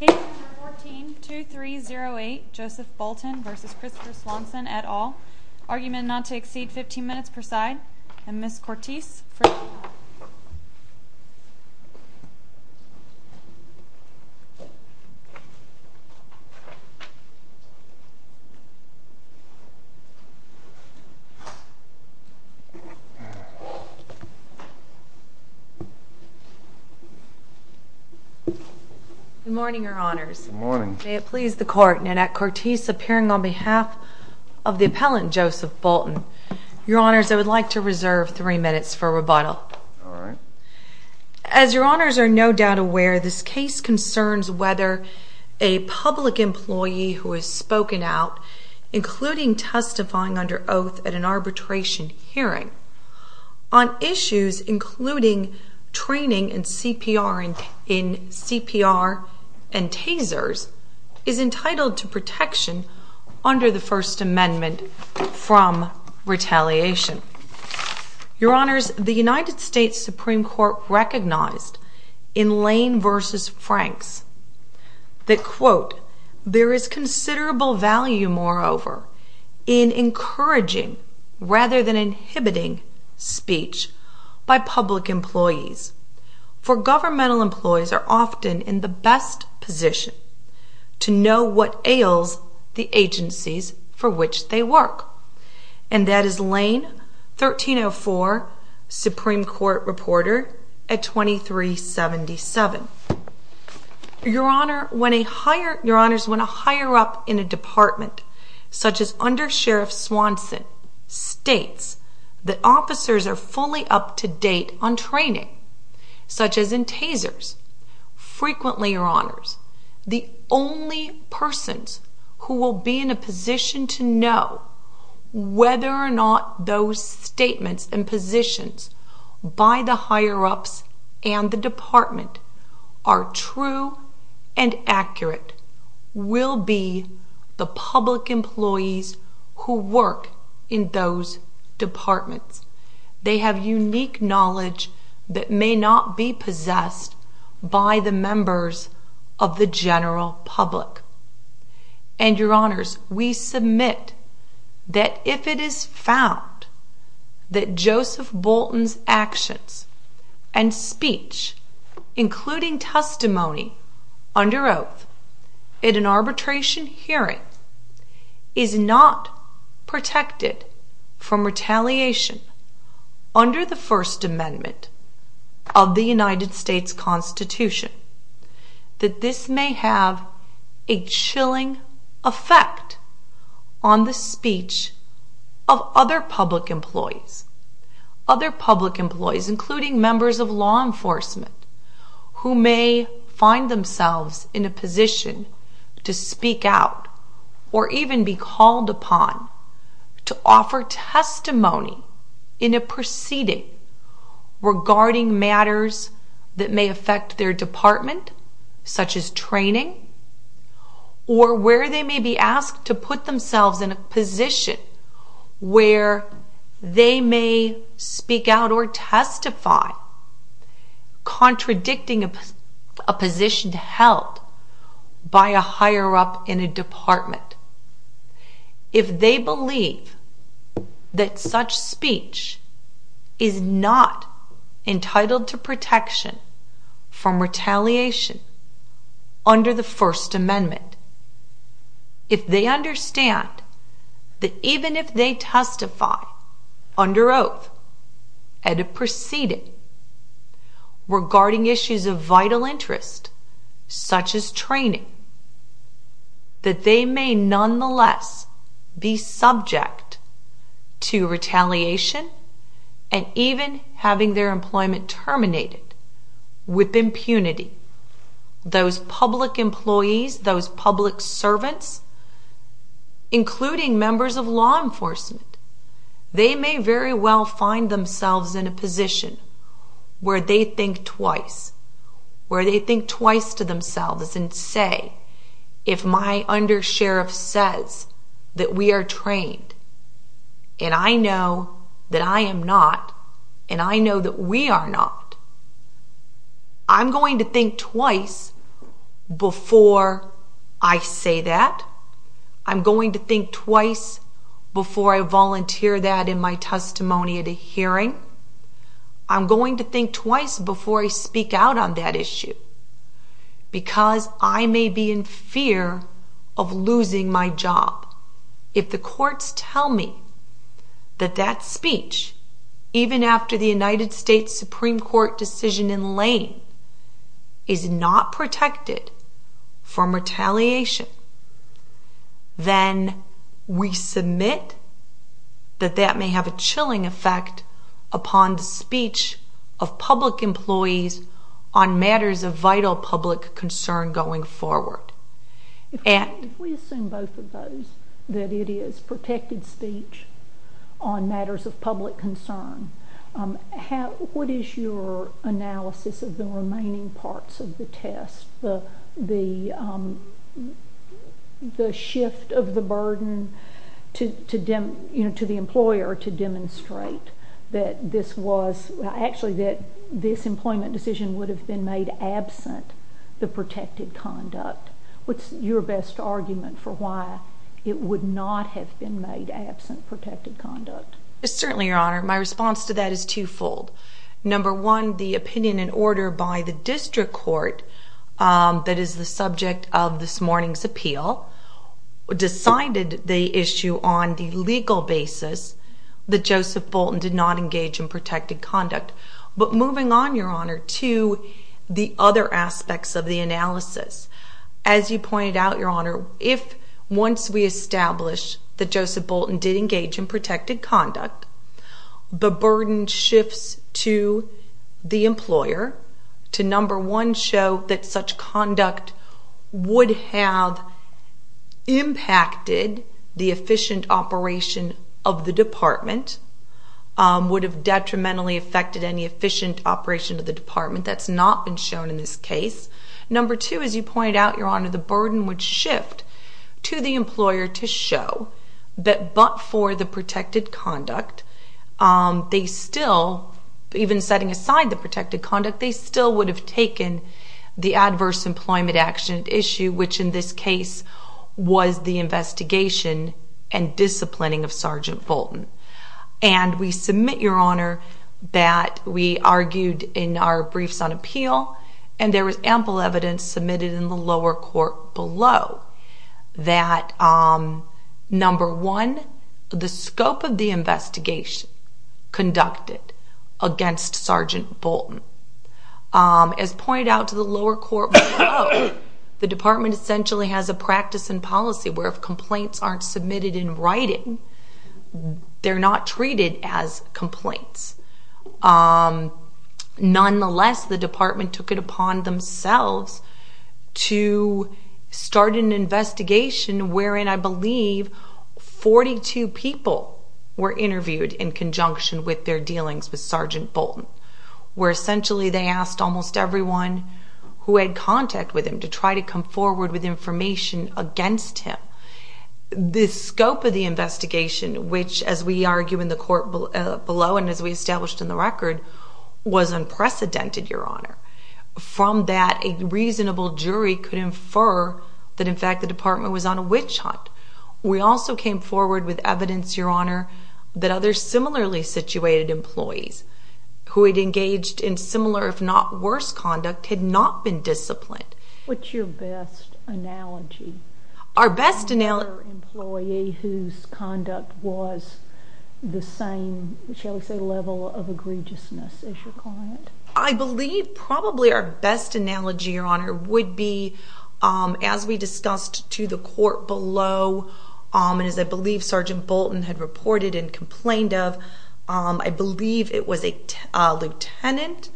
Case number 14-2308 Joseph Boulton v. Christopher Swanson et al. Argument not to exceed 15 minutes per side. And Ms. Cortese for... Good morning, Your Honors. Good morning. May it please the Court, Nanette Cortese appearing on behalf of the appellant, Joseph Boulton. Your Honors, I would like to reserve three minutes for rebuttal. All right. As Your Honors are no doubt aware, this case concerns whether a public employee who has spoken out, including testifying under oath at an arbitration hearing, on issues including training in CPR and tasers, is entitled to protection under the First Amendment from retaliation. Your Honors, the United States Supreme Court recognized in Lane v. Franks that, quote, there is considerable value, moreover, in encouraging rather than inhibiting speech by public employees, for governmental employees are often in the best position to know what ails the agencies for which they work. And that is Lane, 1304, Supreme Court Reporter at 2377. Your Honors, when a higher up in a department, such as under Sheriff Swanson, states that officers are fully up to date on training, such as in tasers, frequently, Your Honors, the only persons who will be in a position to know whether or not those statements and positions by the higher ups and the department are true and accurate will be the public employees who work in those departments. They have unique knowledge that may not be possessed by the members of the general public. And, Your Honors, we submit that if it is found that Joseph Bolton's actions and speech, including testimony under oath at an arbitration hearing, is not protected from retaliation under the First Amendment of the United States Constitution, that this may have a chilling effect on the speech of other public employees. Other public employees, including members of law enforcement, who may find themselves in a position to speak out or even be called upon to offer testimony in a proceeding regarding matters that may affect their department, such as training, or where they may be asked to put themselves in a position where they may speak out or testify contradicting a position held by a higher up in a department. If they believe that such speech is not entitled to protection from retaliation under the First Amendment, if they understand that even if they testify under oath at a proceeding regarding issues of vital interest, such as training, that they may nonetheless be subject to retaliation and even having their employment terminated with impunity, those public employees, those public servants, including members of law enforcement, they may very well find themselves in a position where they think twice, where they think twice to themselves and say, if my undersheriff says that we are trained and I know that I am not and I know that we are not, I'm going to think twice before I say that. I'm going to think twice before I volunteer that in my testimony at a hearing. I'm going to think twice before I speak out on that issue because I may be in fear of losing my job. If the courts tell me that that speech, even after the United States Supreme Court decision in Lane, is not protected from retaliation, then we submit that that may have a chilling effect upon the speech of public employees on matters of vital public concern going forward. If we assume both of those, that it is protected speech on matters of public concern, what is your analysis of the remaining parts of the test, the shift of the burden to the employer to demonstrate that this was, actually that this employment decision would have been made absent the protected conduct? What's your best argument for why it would not have been made absent protected conduct? Certainly, Your Honor. My response to that is twofold. Number one, the opinion and order by the district court that is the subject of this morning's appeal decided the issue on the legal basis that Joseph Bolton did not engage in protected conduct. But moving on, Your Honor, to the other aspects of the analysis. As you pointed out, Your Honor, if once we establish that Joseph Bolton did engage in protected conduct, the burden shifts to the employer to, number one, show that such conduct would have impacted the efficient operation of the department, would have detrimentally affected any efficient operation of the department. That's not been shown in this case. Number two, as you pointed out, Your Honor, the burden would shift to the employer to show that but for the protected conduct, they still, even setting aside the protected conduct, they still would have taken the adverse employment action issue, which in this case was the investigation and disciplining of Sergeant Bolton. And we submit, Your Honor, that we argued in our briefs on appeal and there was ample evidence submitted in the lower court below that, number one, the scope of the investigation conducted against Sergeant Bolton. As pointed out to the lower court below, the department essentially has a practice and policy where if complaints aren't submitted in writing, they're not treated as complaints. Nonetheless, the department took it upon themselves to start an investigation wherein, I believe, 42 people were interviewed in conjunction with their dealings with Sergeant Bolton, where essentially they asked almost everyone who had contact with him to try to come forward with information against him. The scope of the investigation, which, as we argue in the court below and as we established in the record, was unprecedented, Your Honor. From that, a reasonable jury could infer that, in fact, the department was on a witch hunt. We also came forward with evidence, Your Honor, that other similarly situated employees who had engaged in similar if not worse conduct had not been disciplined. What's your best analogy? Our best analogy... Another employee whose conduct was the same, shall we say, level of egregiousness as your client? I believe probably our best analogy, Your Honor, would be, as we discussed to the court below and as I believe Sergeant Bolton had reported and complained of, I believe it was a lieutenant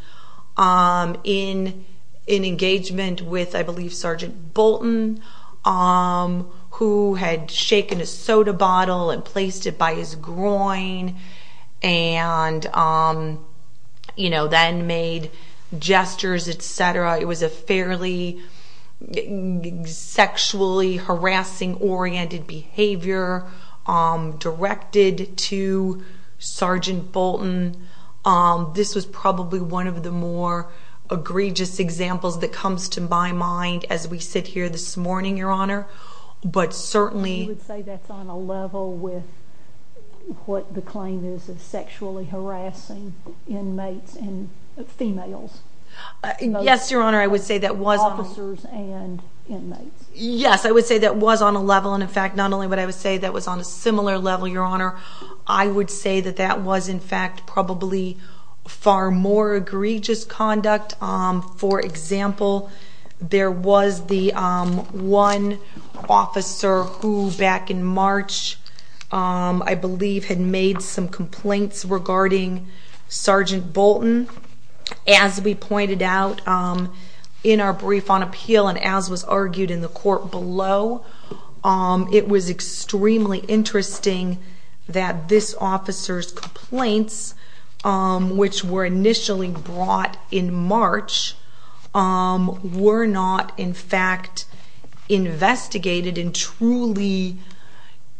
in engagement with, I believe, Sergeant Bolton, who had shaken a soda bottle and placed it by his groin and then made gestures, etc. It was a fairly sexually harassing-oriented behavior directed to Sergeant Bolton. This was probably one of the more egregious examples that comes to my mind as we sit here this morning, Your Honor, but certainly... You would say that's on a level with what the claim is of sexually harassing inmates and females? Yes, Your Honor, I would say that was... Officers and inmates? Yes, I would say that was on a level and, in fact, not only would I say that was on a similar level, Your Honor, I would say that that was, in fact, probably far more egregious conduct. For example, there was the one officer who, back in March, I believe, had made some complaints regarding Sergeant Bolton. As we pointed out in our brief on appeal and as was argued in the court below, it was extremely interesting that this officer's complaints, which were initially brought in March, were not, in fact, investigated and truly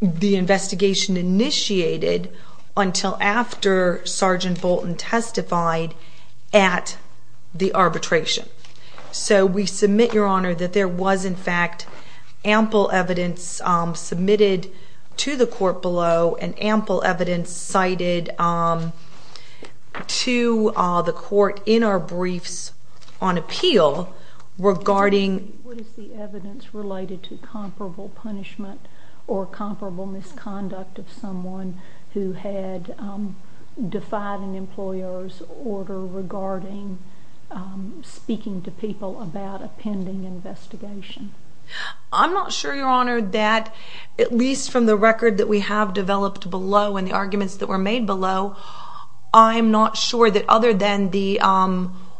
the investigation initiated until after Sergeant Bolton testified at the arbitration. So we submit, Your Honor, that there was, in fact, ample evidence submitted to the court below and ample evidence cited to the court in our briefs on appeal regarding... or comparable misconduct of someone who had defied an employer's order regarding speaking to people about a pending investigation. I'm not sure, Your Honor, that, at least from the record that we have developed below and the arguments that were made below, I'm not sure that other than the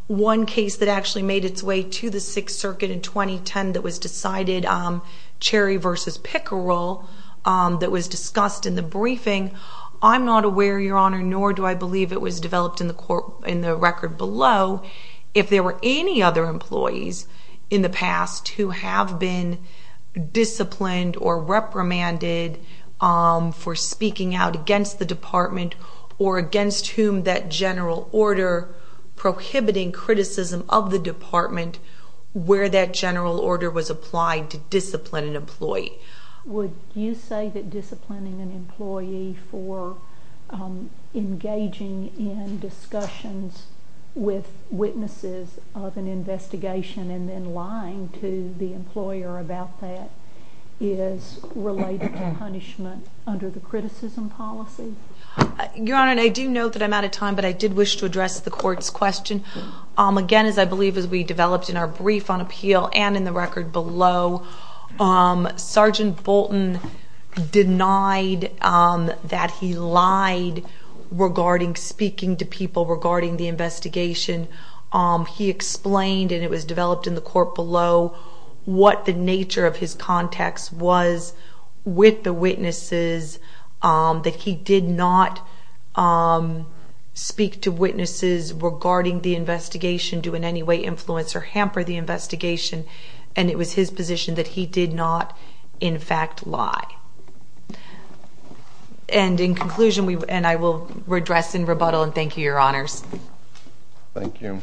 one case that actually made its way to the Sixth Circuit in 2010 that was decided, Cherry v. Pickerel, that was discussed in the briefing, I'm not aware, Your Honor, nor do I believe it was developed in the record below, if there were any other employees in the past who have been disciplined or reprimanded for speaking out against the Department or against whom that general order prohibiting criticism of the Department where that general order was applied to discipline an employee. Would you say that disciplining an employee for engaging in discussions with witnesses of an investigation and then lying to the employer about that is related to punishment under the criticism policy? Your Honor, I do note that I'm out of time, but I did wish to address the court's question. Again, as I believe as we developed in our brief on appeal and in the record below, Sergeant Bolton denied that he lied regarding speaking to people regarding the investigation. He explained, and it was developed in the court below, what the nature of his context was with the witnesses, that he did not speak to witnesses regarding the investigation, do in any way influence or hamper the investigation, and it was his position that he did not, in fact, lie. And in conclusion, and I will address in rebuttal, and thank you, Your Honors. Thank you.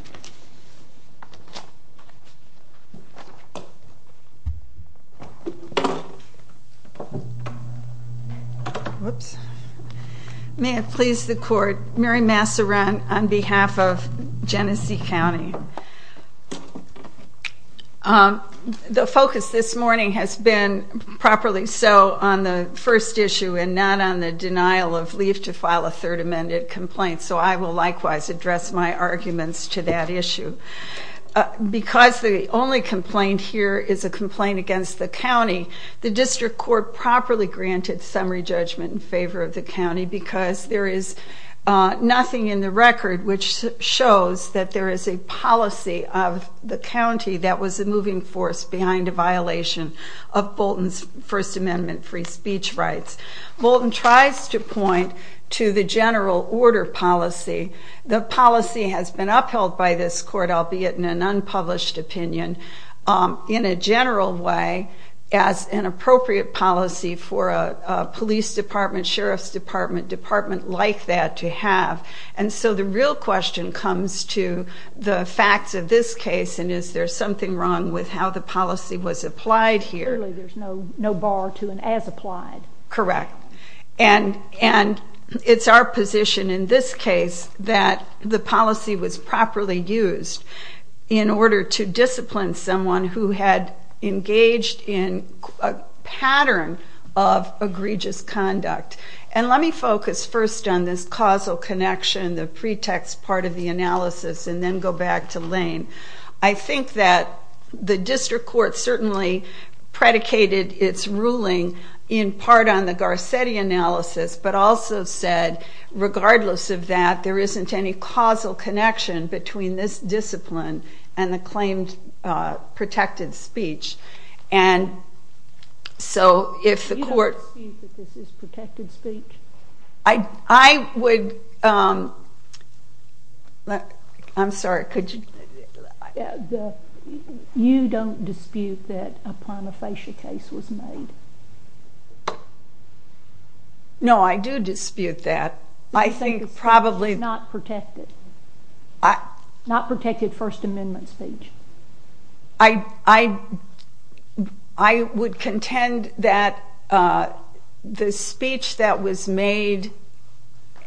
May it please the Court, Mary Masserant on behalf of Genesee County. The focus this morning has been properly so on the first issue and not on the denial of leave to file a third amended complaint, so I will likewise address my arguments to that issue. Because the only complaint here is a complaint against the county, the district court properly granted summary judgment in favor of the county because there is nothing in the record which shows that there is a policy of the county that was a moving force behind a violation of Bolton's First Amendment free speech rights. Bolton tries to point to the general order policy. The policy has been upheld by this court, albeit in an unpublished opinion, in a general way as an appropriate policy for a police department, sheriff's department, department like that to have. And so the real question comes to the facts of this case and is there something wrong with how the policy was applied here. Clearly there's no bar to an as applied. Correct. And it's our position in this case that the policy was properly used in order to discipline someone who had engaged in a pattern of egregious conduct. And let me focus first on this causal connection, the pretext part of the analysis, and then go back to Lane. I think that the district court certainly predicated its ruling in part on the Garcetti analysis, but also said regardless of that there isn't any causal connection between this discipline and the claimed protected speech. And so if the court... You don't dispute that this is protected speech? I would... I'm sorry, could you... You don't dispute that a prima facie case was made? No, I do dispute that. I think probably... Not protected. Not protected First Amendment speech. I would contend that the speech that was made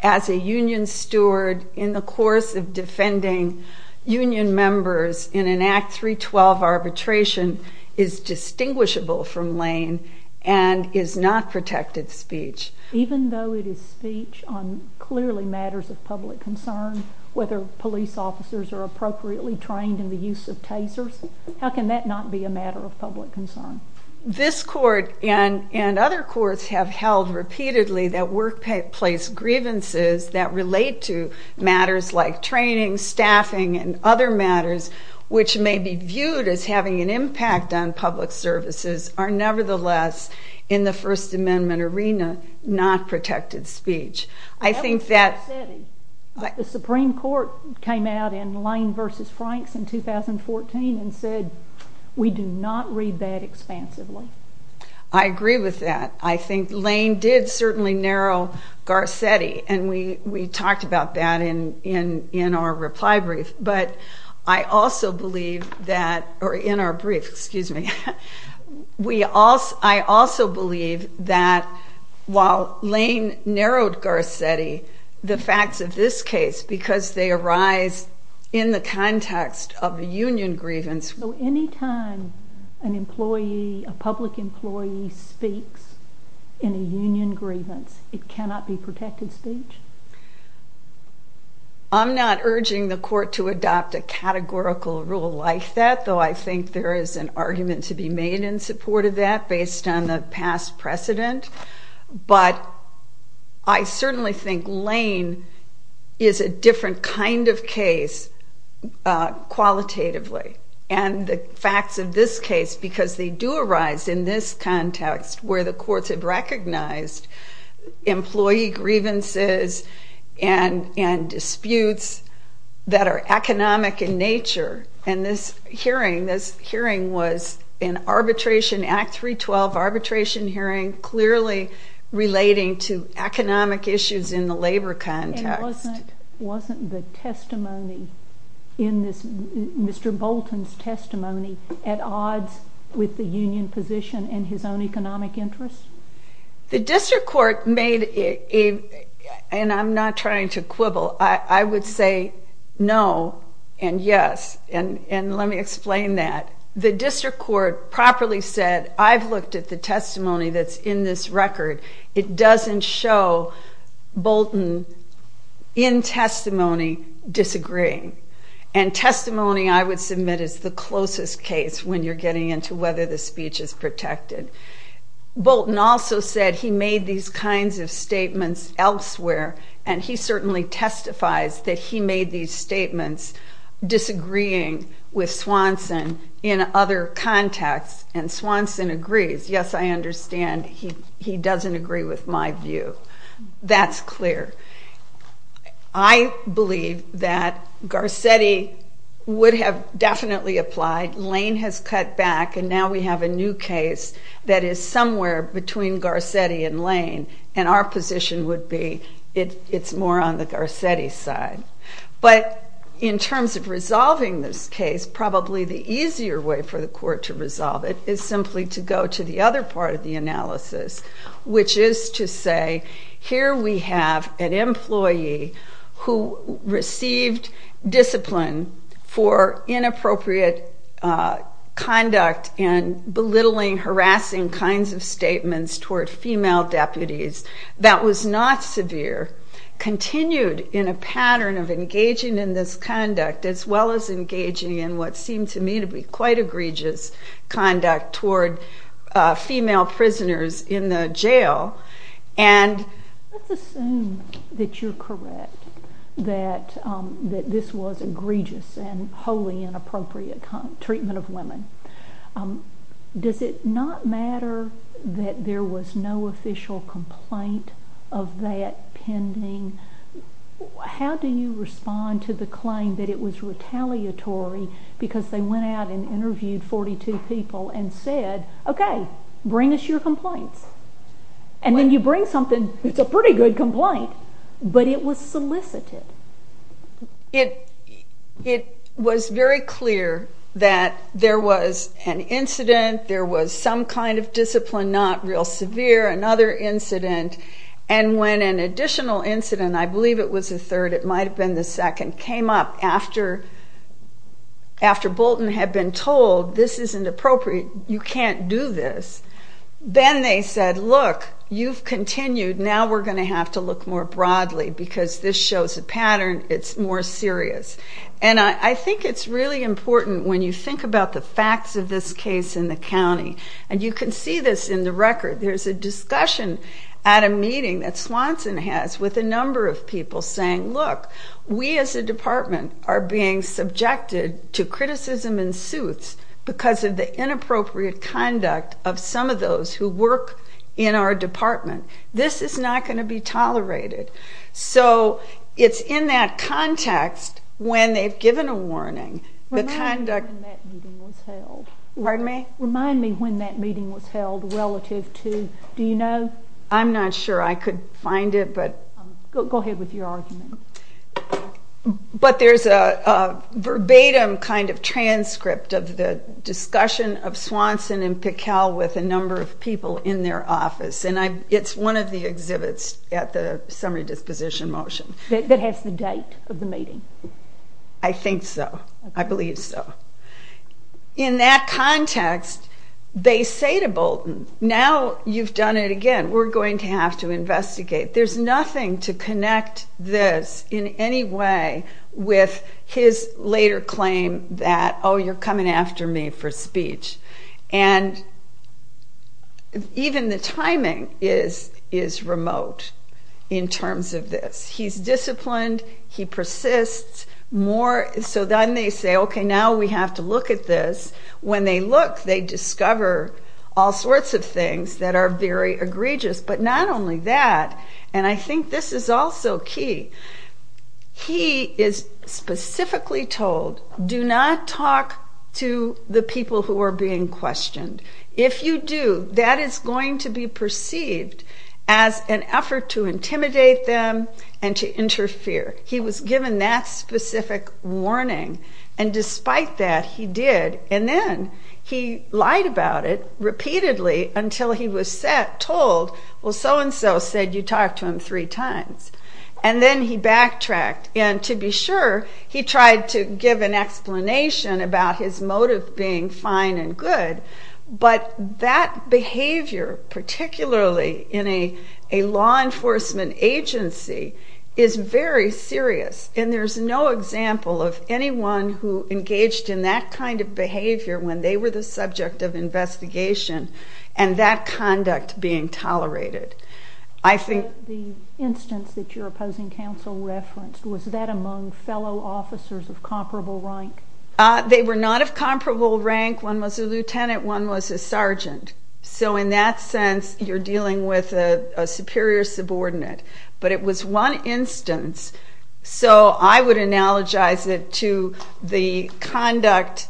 as a union steward in the course of defending union members in an Act 312 arbitration is distinguishable from Lane and is not protected speech. Even though it is speech on clearly matters of public concern, whether police officers are appropriately trained in the use of tasers, how can that not be a matter of public concern? This court and other courts have held repeatedly that workplace grievances that relate to matters like training, staffing, and other matters, which may be viewed as having an impact on public services, are nevertheless in the First Amendment arena not protected speech. I think that... The Supreme Court came out in Lane v. Franks in 2014 and said we do not read that expansively. I agree with that. I think Lane did certainly narrow Garcetti, and we talked about that in our reply brief. But I also believe that... Or in our brief, excuse me. I also believe that while Lane narrowed Garcetti, the facts of this case, because they arise in the context of a union grievance... So any time an employee, a public employee, speaks in a union grievance, it cannot be protected speech? I'm not urging the court to adopt a categorical rule like that, though I think there is an argument to be made in support of that based on the past precedent. But I certainly think Lane is a different kind of case qualitatively. And the facts of this case, because they do arise in this context, where the courts have recognized employee grievances and disputes that are economic in nature. And this hearing was an Arbitration Act 312 arbitration hearing clearly relating to economic issues in the labor context. And wasn't the testimony in this, Mr. Bolton's testimony, at odds with the union position and his own economic interests? The district court made a... And I'm not trying to quibble. I would say no and yes. And let me explain that. The district court properly said, I've looked at the testimony that's in this record. It doesn't show Bolton in testimony disagreeing. And testimony, I would submit, is the closest case when you're getting into whether the speech is protected. Bolton also said he made these kinds of statements elsewhere, and he certainly testifies that he made these statements disagreeing with Swanson in other contexts, and Swanson agrees. Yes, I understand he doesn't agree with my view. That's clear. I believe that Garcetti would have definitely applied. Lane has cut back, and now we have a new case that is somewhere between Garcetti and Lane, and our position would be it's more on the Garcetti side. But in terms of resolving this case, probably the easier way for the court to resolve it is simply to go to the other part of the analysis, which is to say here we have an employee who received discipline for inappropriate conduct and belittling, harassing kinds of statements toward female deputies that was not severe, continued in a pattern of engaging in this conduct as well as engaging in what seemed to me to be quite egregious conduct toward female prisoners in the jail, and... Let's assume that you're correct, that this was egregious and wholly inappropriate treatment of women. Does it not matter that there was no official complaint of that pending? How do you respond to the claim that it was retaliatory because they went out and interviewed 42 people and said, okay, bring us your complaints? And then you bring something, it's a pretty good complaint, but it was solicited? It was very clear that there was an incident, there was some kind of discipline not real severe, another incident, and when an additional incident, I believe it was the third, it might have been the second, came up after Bolton had been told this isn't appropriate, you can't do this, then they said, look, you've continued, now we're going to have to look more broadly because this shows a pattern, it's more serious. And I think it's really important when you think about the facts of this case in the county, and you can see this in the record, there's a discussion at a meeting that Swanson has with a number of people saying, look, we as a department are being subjected to criticism and suits because of the inappropriate conduct of some of those who work in our department. This is not going to be tolerated. So it's in that context when they've given a warning. Remind me when that meeting was held relative to, do you know? I'm not sure I could find it. Go ahead with your argument. But there's a verbatim kind of transcript of the discussion of Swanson and Piquel with a number of people in their office, and it's one of the exhibits at the summary disposition motion. That has the date of the meeting? I think so. I believe so. In that context, they say to Bolton, now you've done it again, we're going to have to investigate. There's nothing to connect this in any way with his later claim that, oh, you're coming after me for speech. And even the timing is remote in terms of this. He's disciplined. He persists. So then they say, okay, now we have to look at this. When they look, they discover all sorts of things that are very egregious. But not only that, and I think this is also key, he is specifically told, do not talk to the people who are being questioned. If you do, that is going to be perceived as an effort to intimidate them and to interfere. He was given that specific warning. And despite that, he did. And then he lied about it repeatedly until he was told, well, so-and-so said you talk to him three times. And then he backtracked. And to be sure, he tried to give an explanation about his motive being fine and good. But that behavior, particularly in a law enforcement agency, is very serious. And there's no example of anyone who engaged in that kind of behavior when they were the subject of investigation and that conduct being tolerated. I think... The instance that your opposing counsel referenced, was that among fellow officers of comparable rank? They were not of comparable rank. One was a lieutenant, one was a sergeant. So in that sense, you're dealing with a superior subordinate. But it was one instance. So I would analogize it to the conduct,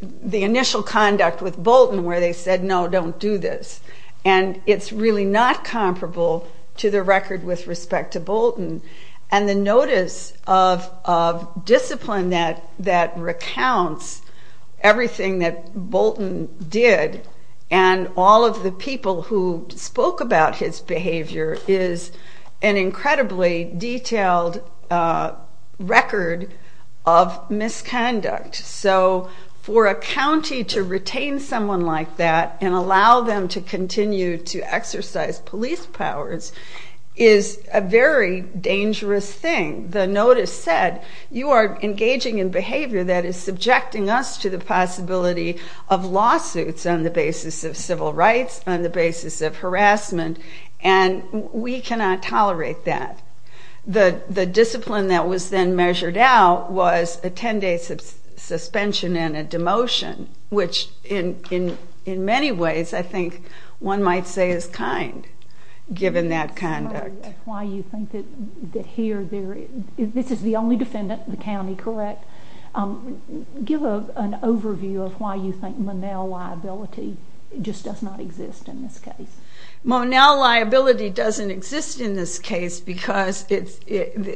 the initial conduct with Bolton where they said, no, don't do this. And it's really not comparable to the record with respect to Bolton. And the notice of discipline that recounts everything that Bolton did and all of the people who spoke about his behavior is an incredibly detailed record of misconduct. So for a county to retain someone like that and allow them to continue to exercise police powers is a very dangerous thing. The notice said, you are engaging in behavior that is subjecting us to the possibility of lawsuits on the basis of civil rights, on the basis of harassment. And we cannot tolerate that. The discipline that was then measured out was a 10-day suspension and a demotion, which in many ways I think one might say is kind, given that conduct. That's why you think that here, this is the only defendant in the county, correct? Give an overview of why you think Monell liability just does not exist in this case. Monell liability doesn't exist in this case because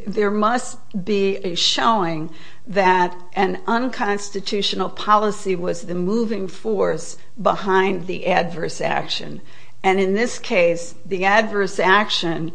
there must be a showing that an unconstitutional policy was the moving force behind the adverse action. And in this case, the adverse action,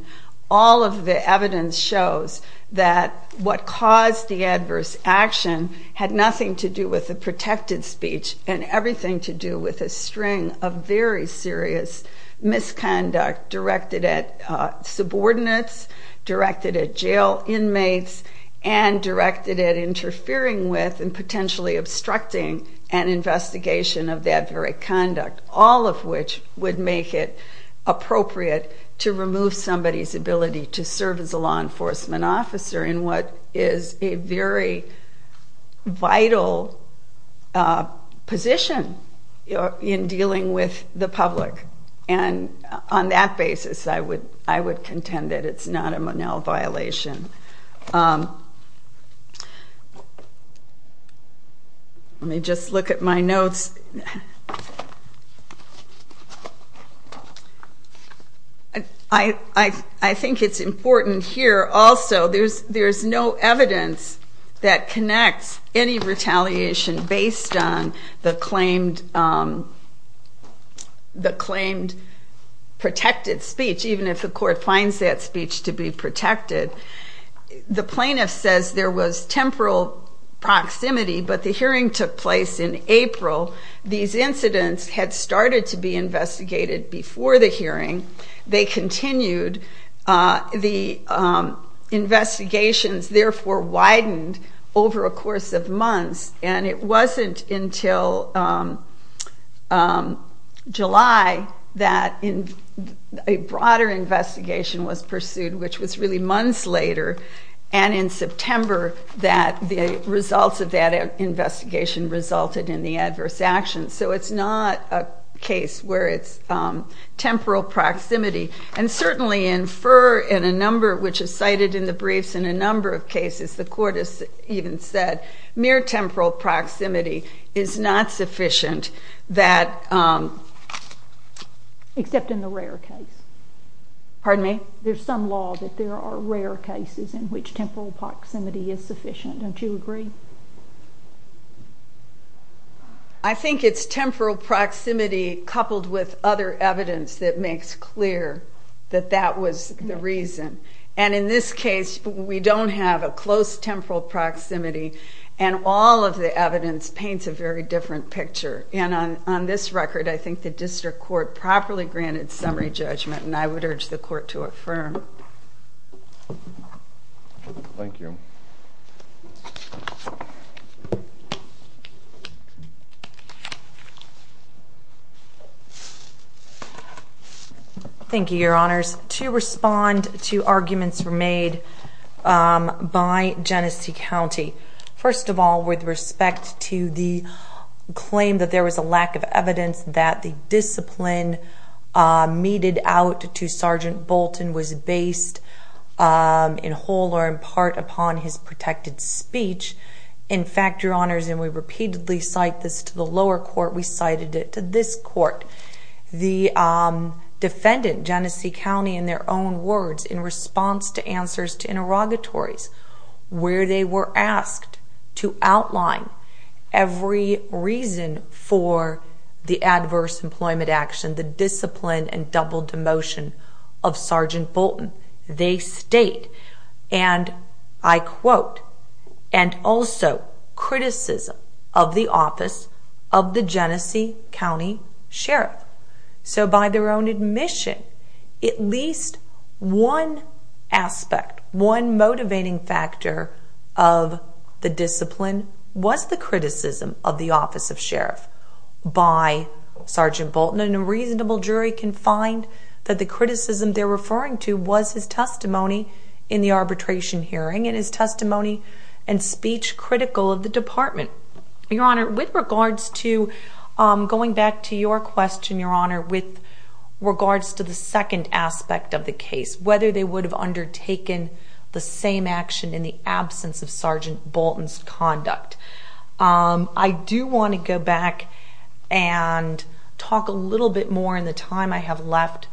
all of the evidence shows that what caused the adverse action had nothing to do with the protected speech and everything to do with a string of very serious misconduct directed at subordinates, directed at jail inmates, and directed at interfering with and potentially obstructing an investigation of that very conduct, all of which would make it appropriate to remove somebody's ability to serve as a law enforcement officer in what is a very vital position in dealing with the public. And on that basis, I would contend that it's not a Monell violation. Let me just look at my notes. I think it's important here also, there's no evidence that connects any retaliation based on the claimed protected speech, even if the court finds that speech to be protected. The plaintiff says there was temporal proximity, but the hearing took place in April. These incidents had started to be investigated before the hearing. They continued. The investigations therefore widened over a course of months, and it wasn't until July that a broader investigation was pursued, which was really months later, and in September that the results of that investigation resulted in the adverse actions. So it's not a case where it's temporal proximity. And certainly in FERR, which is cited in the briefs in a number of cases, the court has even said mere temporal proximity is not sufficient, except in the rare case. Pardon me? There's some law that there are rare cases in which temporal proximity is sufficient. Don't you agree? I think it's temporal proximity coupled with other evidence that makes clear that that was the reason. And in this case, we don't have a close temporal proximity, and all of the evidence paints a very different picture. And on this record, I think the district court properly granted summary judgment, and I would urge the court to affirm. Thank you. Thank you, Your Honors. Two arguments were made by Genesee County. First of all, with respect to the claim that there was a lack of evidence that the discipline meted out to Sergeant Bolton was based in whole or in part upon his protected speech. In fact, Your Honors, and we repeatedly cite this to the lower court, we cited it to this court. The defendant, Genesee County, in their own words, in response to answers to interrogatories, where they were asked to outline every reason for the adverse employment action, the discipline and double demotion of Sergeant Bolton, they state, and I quote, and also criticism of the office of the Genesee County Sheriff. So by their own admission, at least one aspect, one motivating factor of the discipline, was the criticism of the office of Sheriff by Sergeant Bolton. And a reasonable jury can find that the criticism they're referring to was his testimony in the arbitration hearing and his testimony and speech critical of the department. Your Honor, with regards to going back to your question, Your Honor, with regards to the second aspect of the case, whether they would have undertaken the same action in the absence of Sergeant Bolton's conduct. I do want to go back and talk a little bit more in the time I have left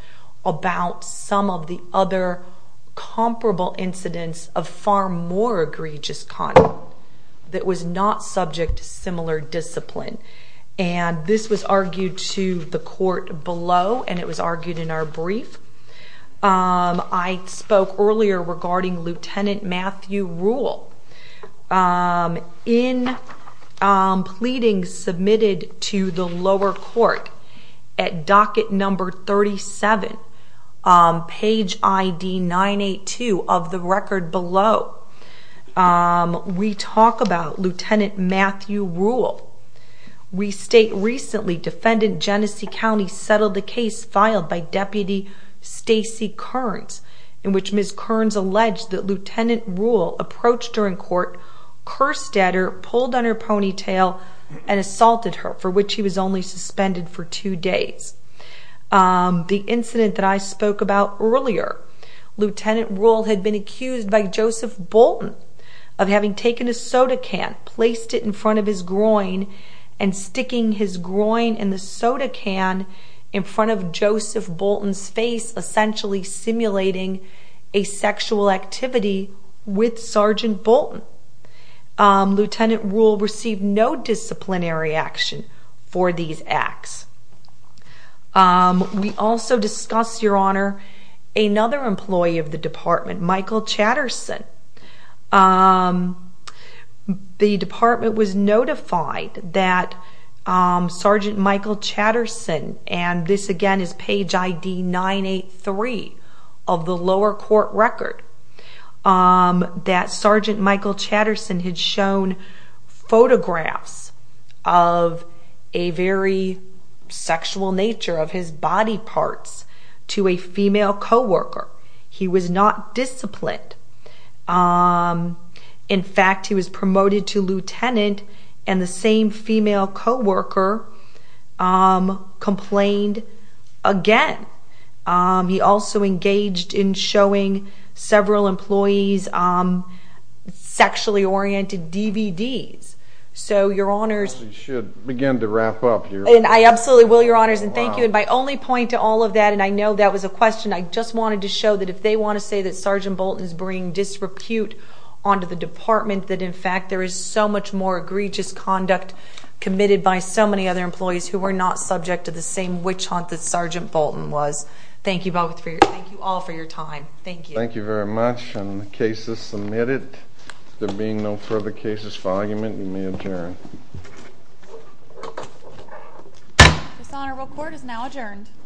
about some of the other comparable incidents of far more egregious conduct that was not subject to similar discipline. And this was argued to the court below and it was argued in our brief. I spoke earlier regarding Lieutenant Matthew Rule. In pleadings submitted to the lower court at docket number 37, page ID 982 of the record below, we talk about Lieutenant Matthew Rule. We state, recently, Defendant Genesee County settled a case filed by Deputy Stacy Kearns in which Ms. Kearns alleged that Lieutenant Rule approached her in court, cursed at her, pulled on her ponytail, and assaulted her, for which he was only suspended for two days. The incident that I spoke about earlier, Lieutenant Rule had been accused by Joseph Bolton of having taken a soda can, placed it in front of his groin, and sticking his groin in the soda can in front of Joseph Bolton's face, essentially simulating a sexual activity with Sergeant Bolton. Lieutenant Rule received no disciplinary action for these acts. We also discuss, Your Honor, another employee of the department, Michael Chatterson. The department was notified that Sergeant Michael Chatterson, and this again is page ID 983 of the lower court record, that Sergeant Michael Chatterson had shown photographs of a very sexual nature of his body parts to a female co-worker. He was not disciplined. In fact, he was promoted to lieutenant, and the same female co-worker complained again. He also engaged in showing several employees sexually-oriented DVDs. So, Your Honors— We should begin to wrap up here. I absolutely will, Your Honors, and thank you. And my only point to all of that, and I know that was a question, I just wanted to show that if they want to say that Sergeant Bolton is bringing disrepute onto the department, that in fact there is so much more egregious conduct committed by so many other employees who were not subject to the same witch hunt that Sergeant Bolton was. Thank you all for your time. Thank you. Thank you very much. And the case is submitted. There being no further cases for argument, you may adjourn. Dishonorable Court is now adjourned. Dishonorable Court is adjourned. Dishonorable Court is adjourned. Dishonorable Court is adjourned.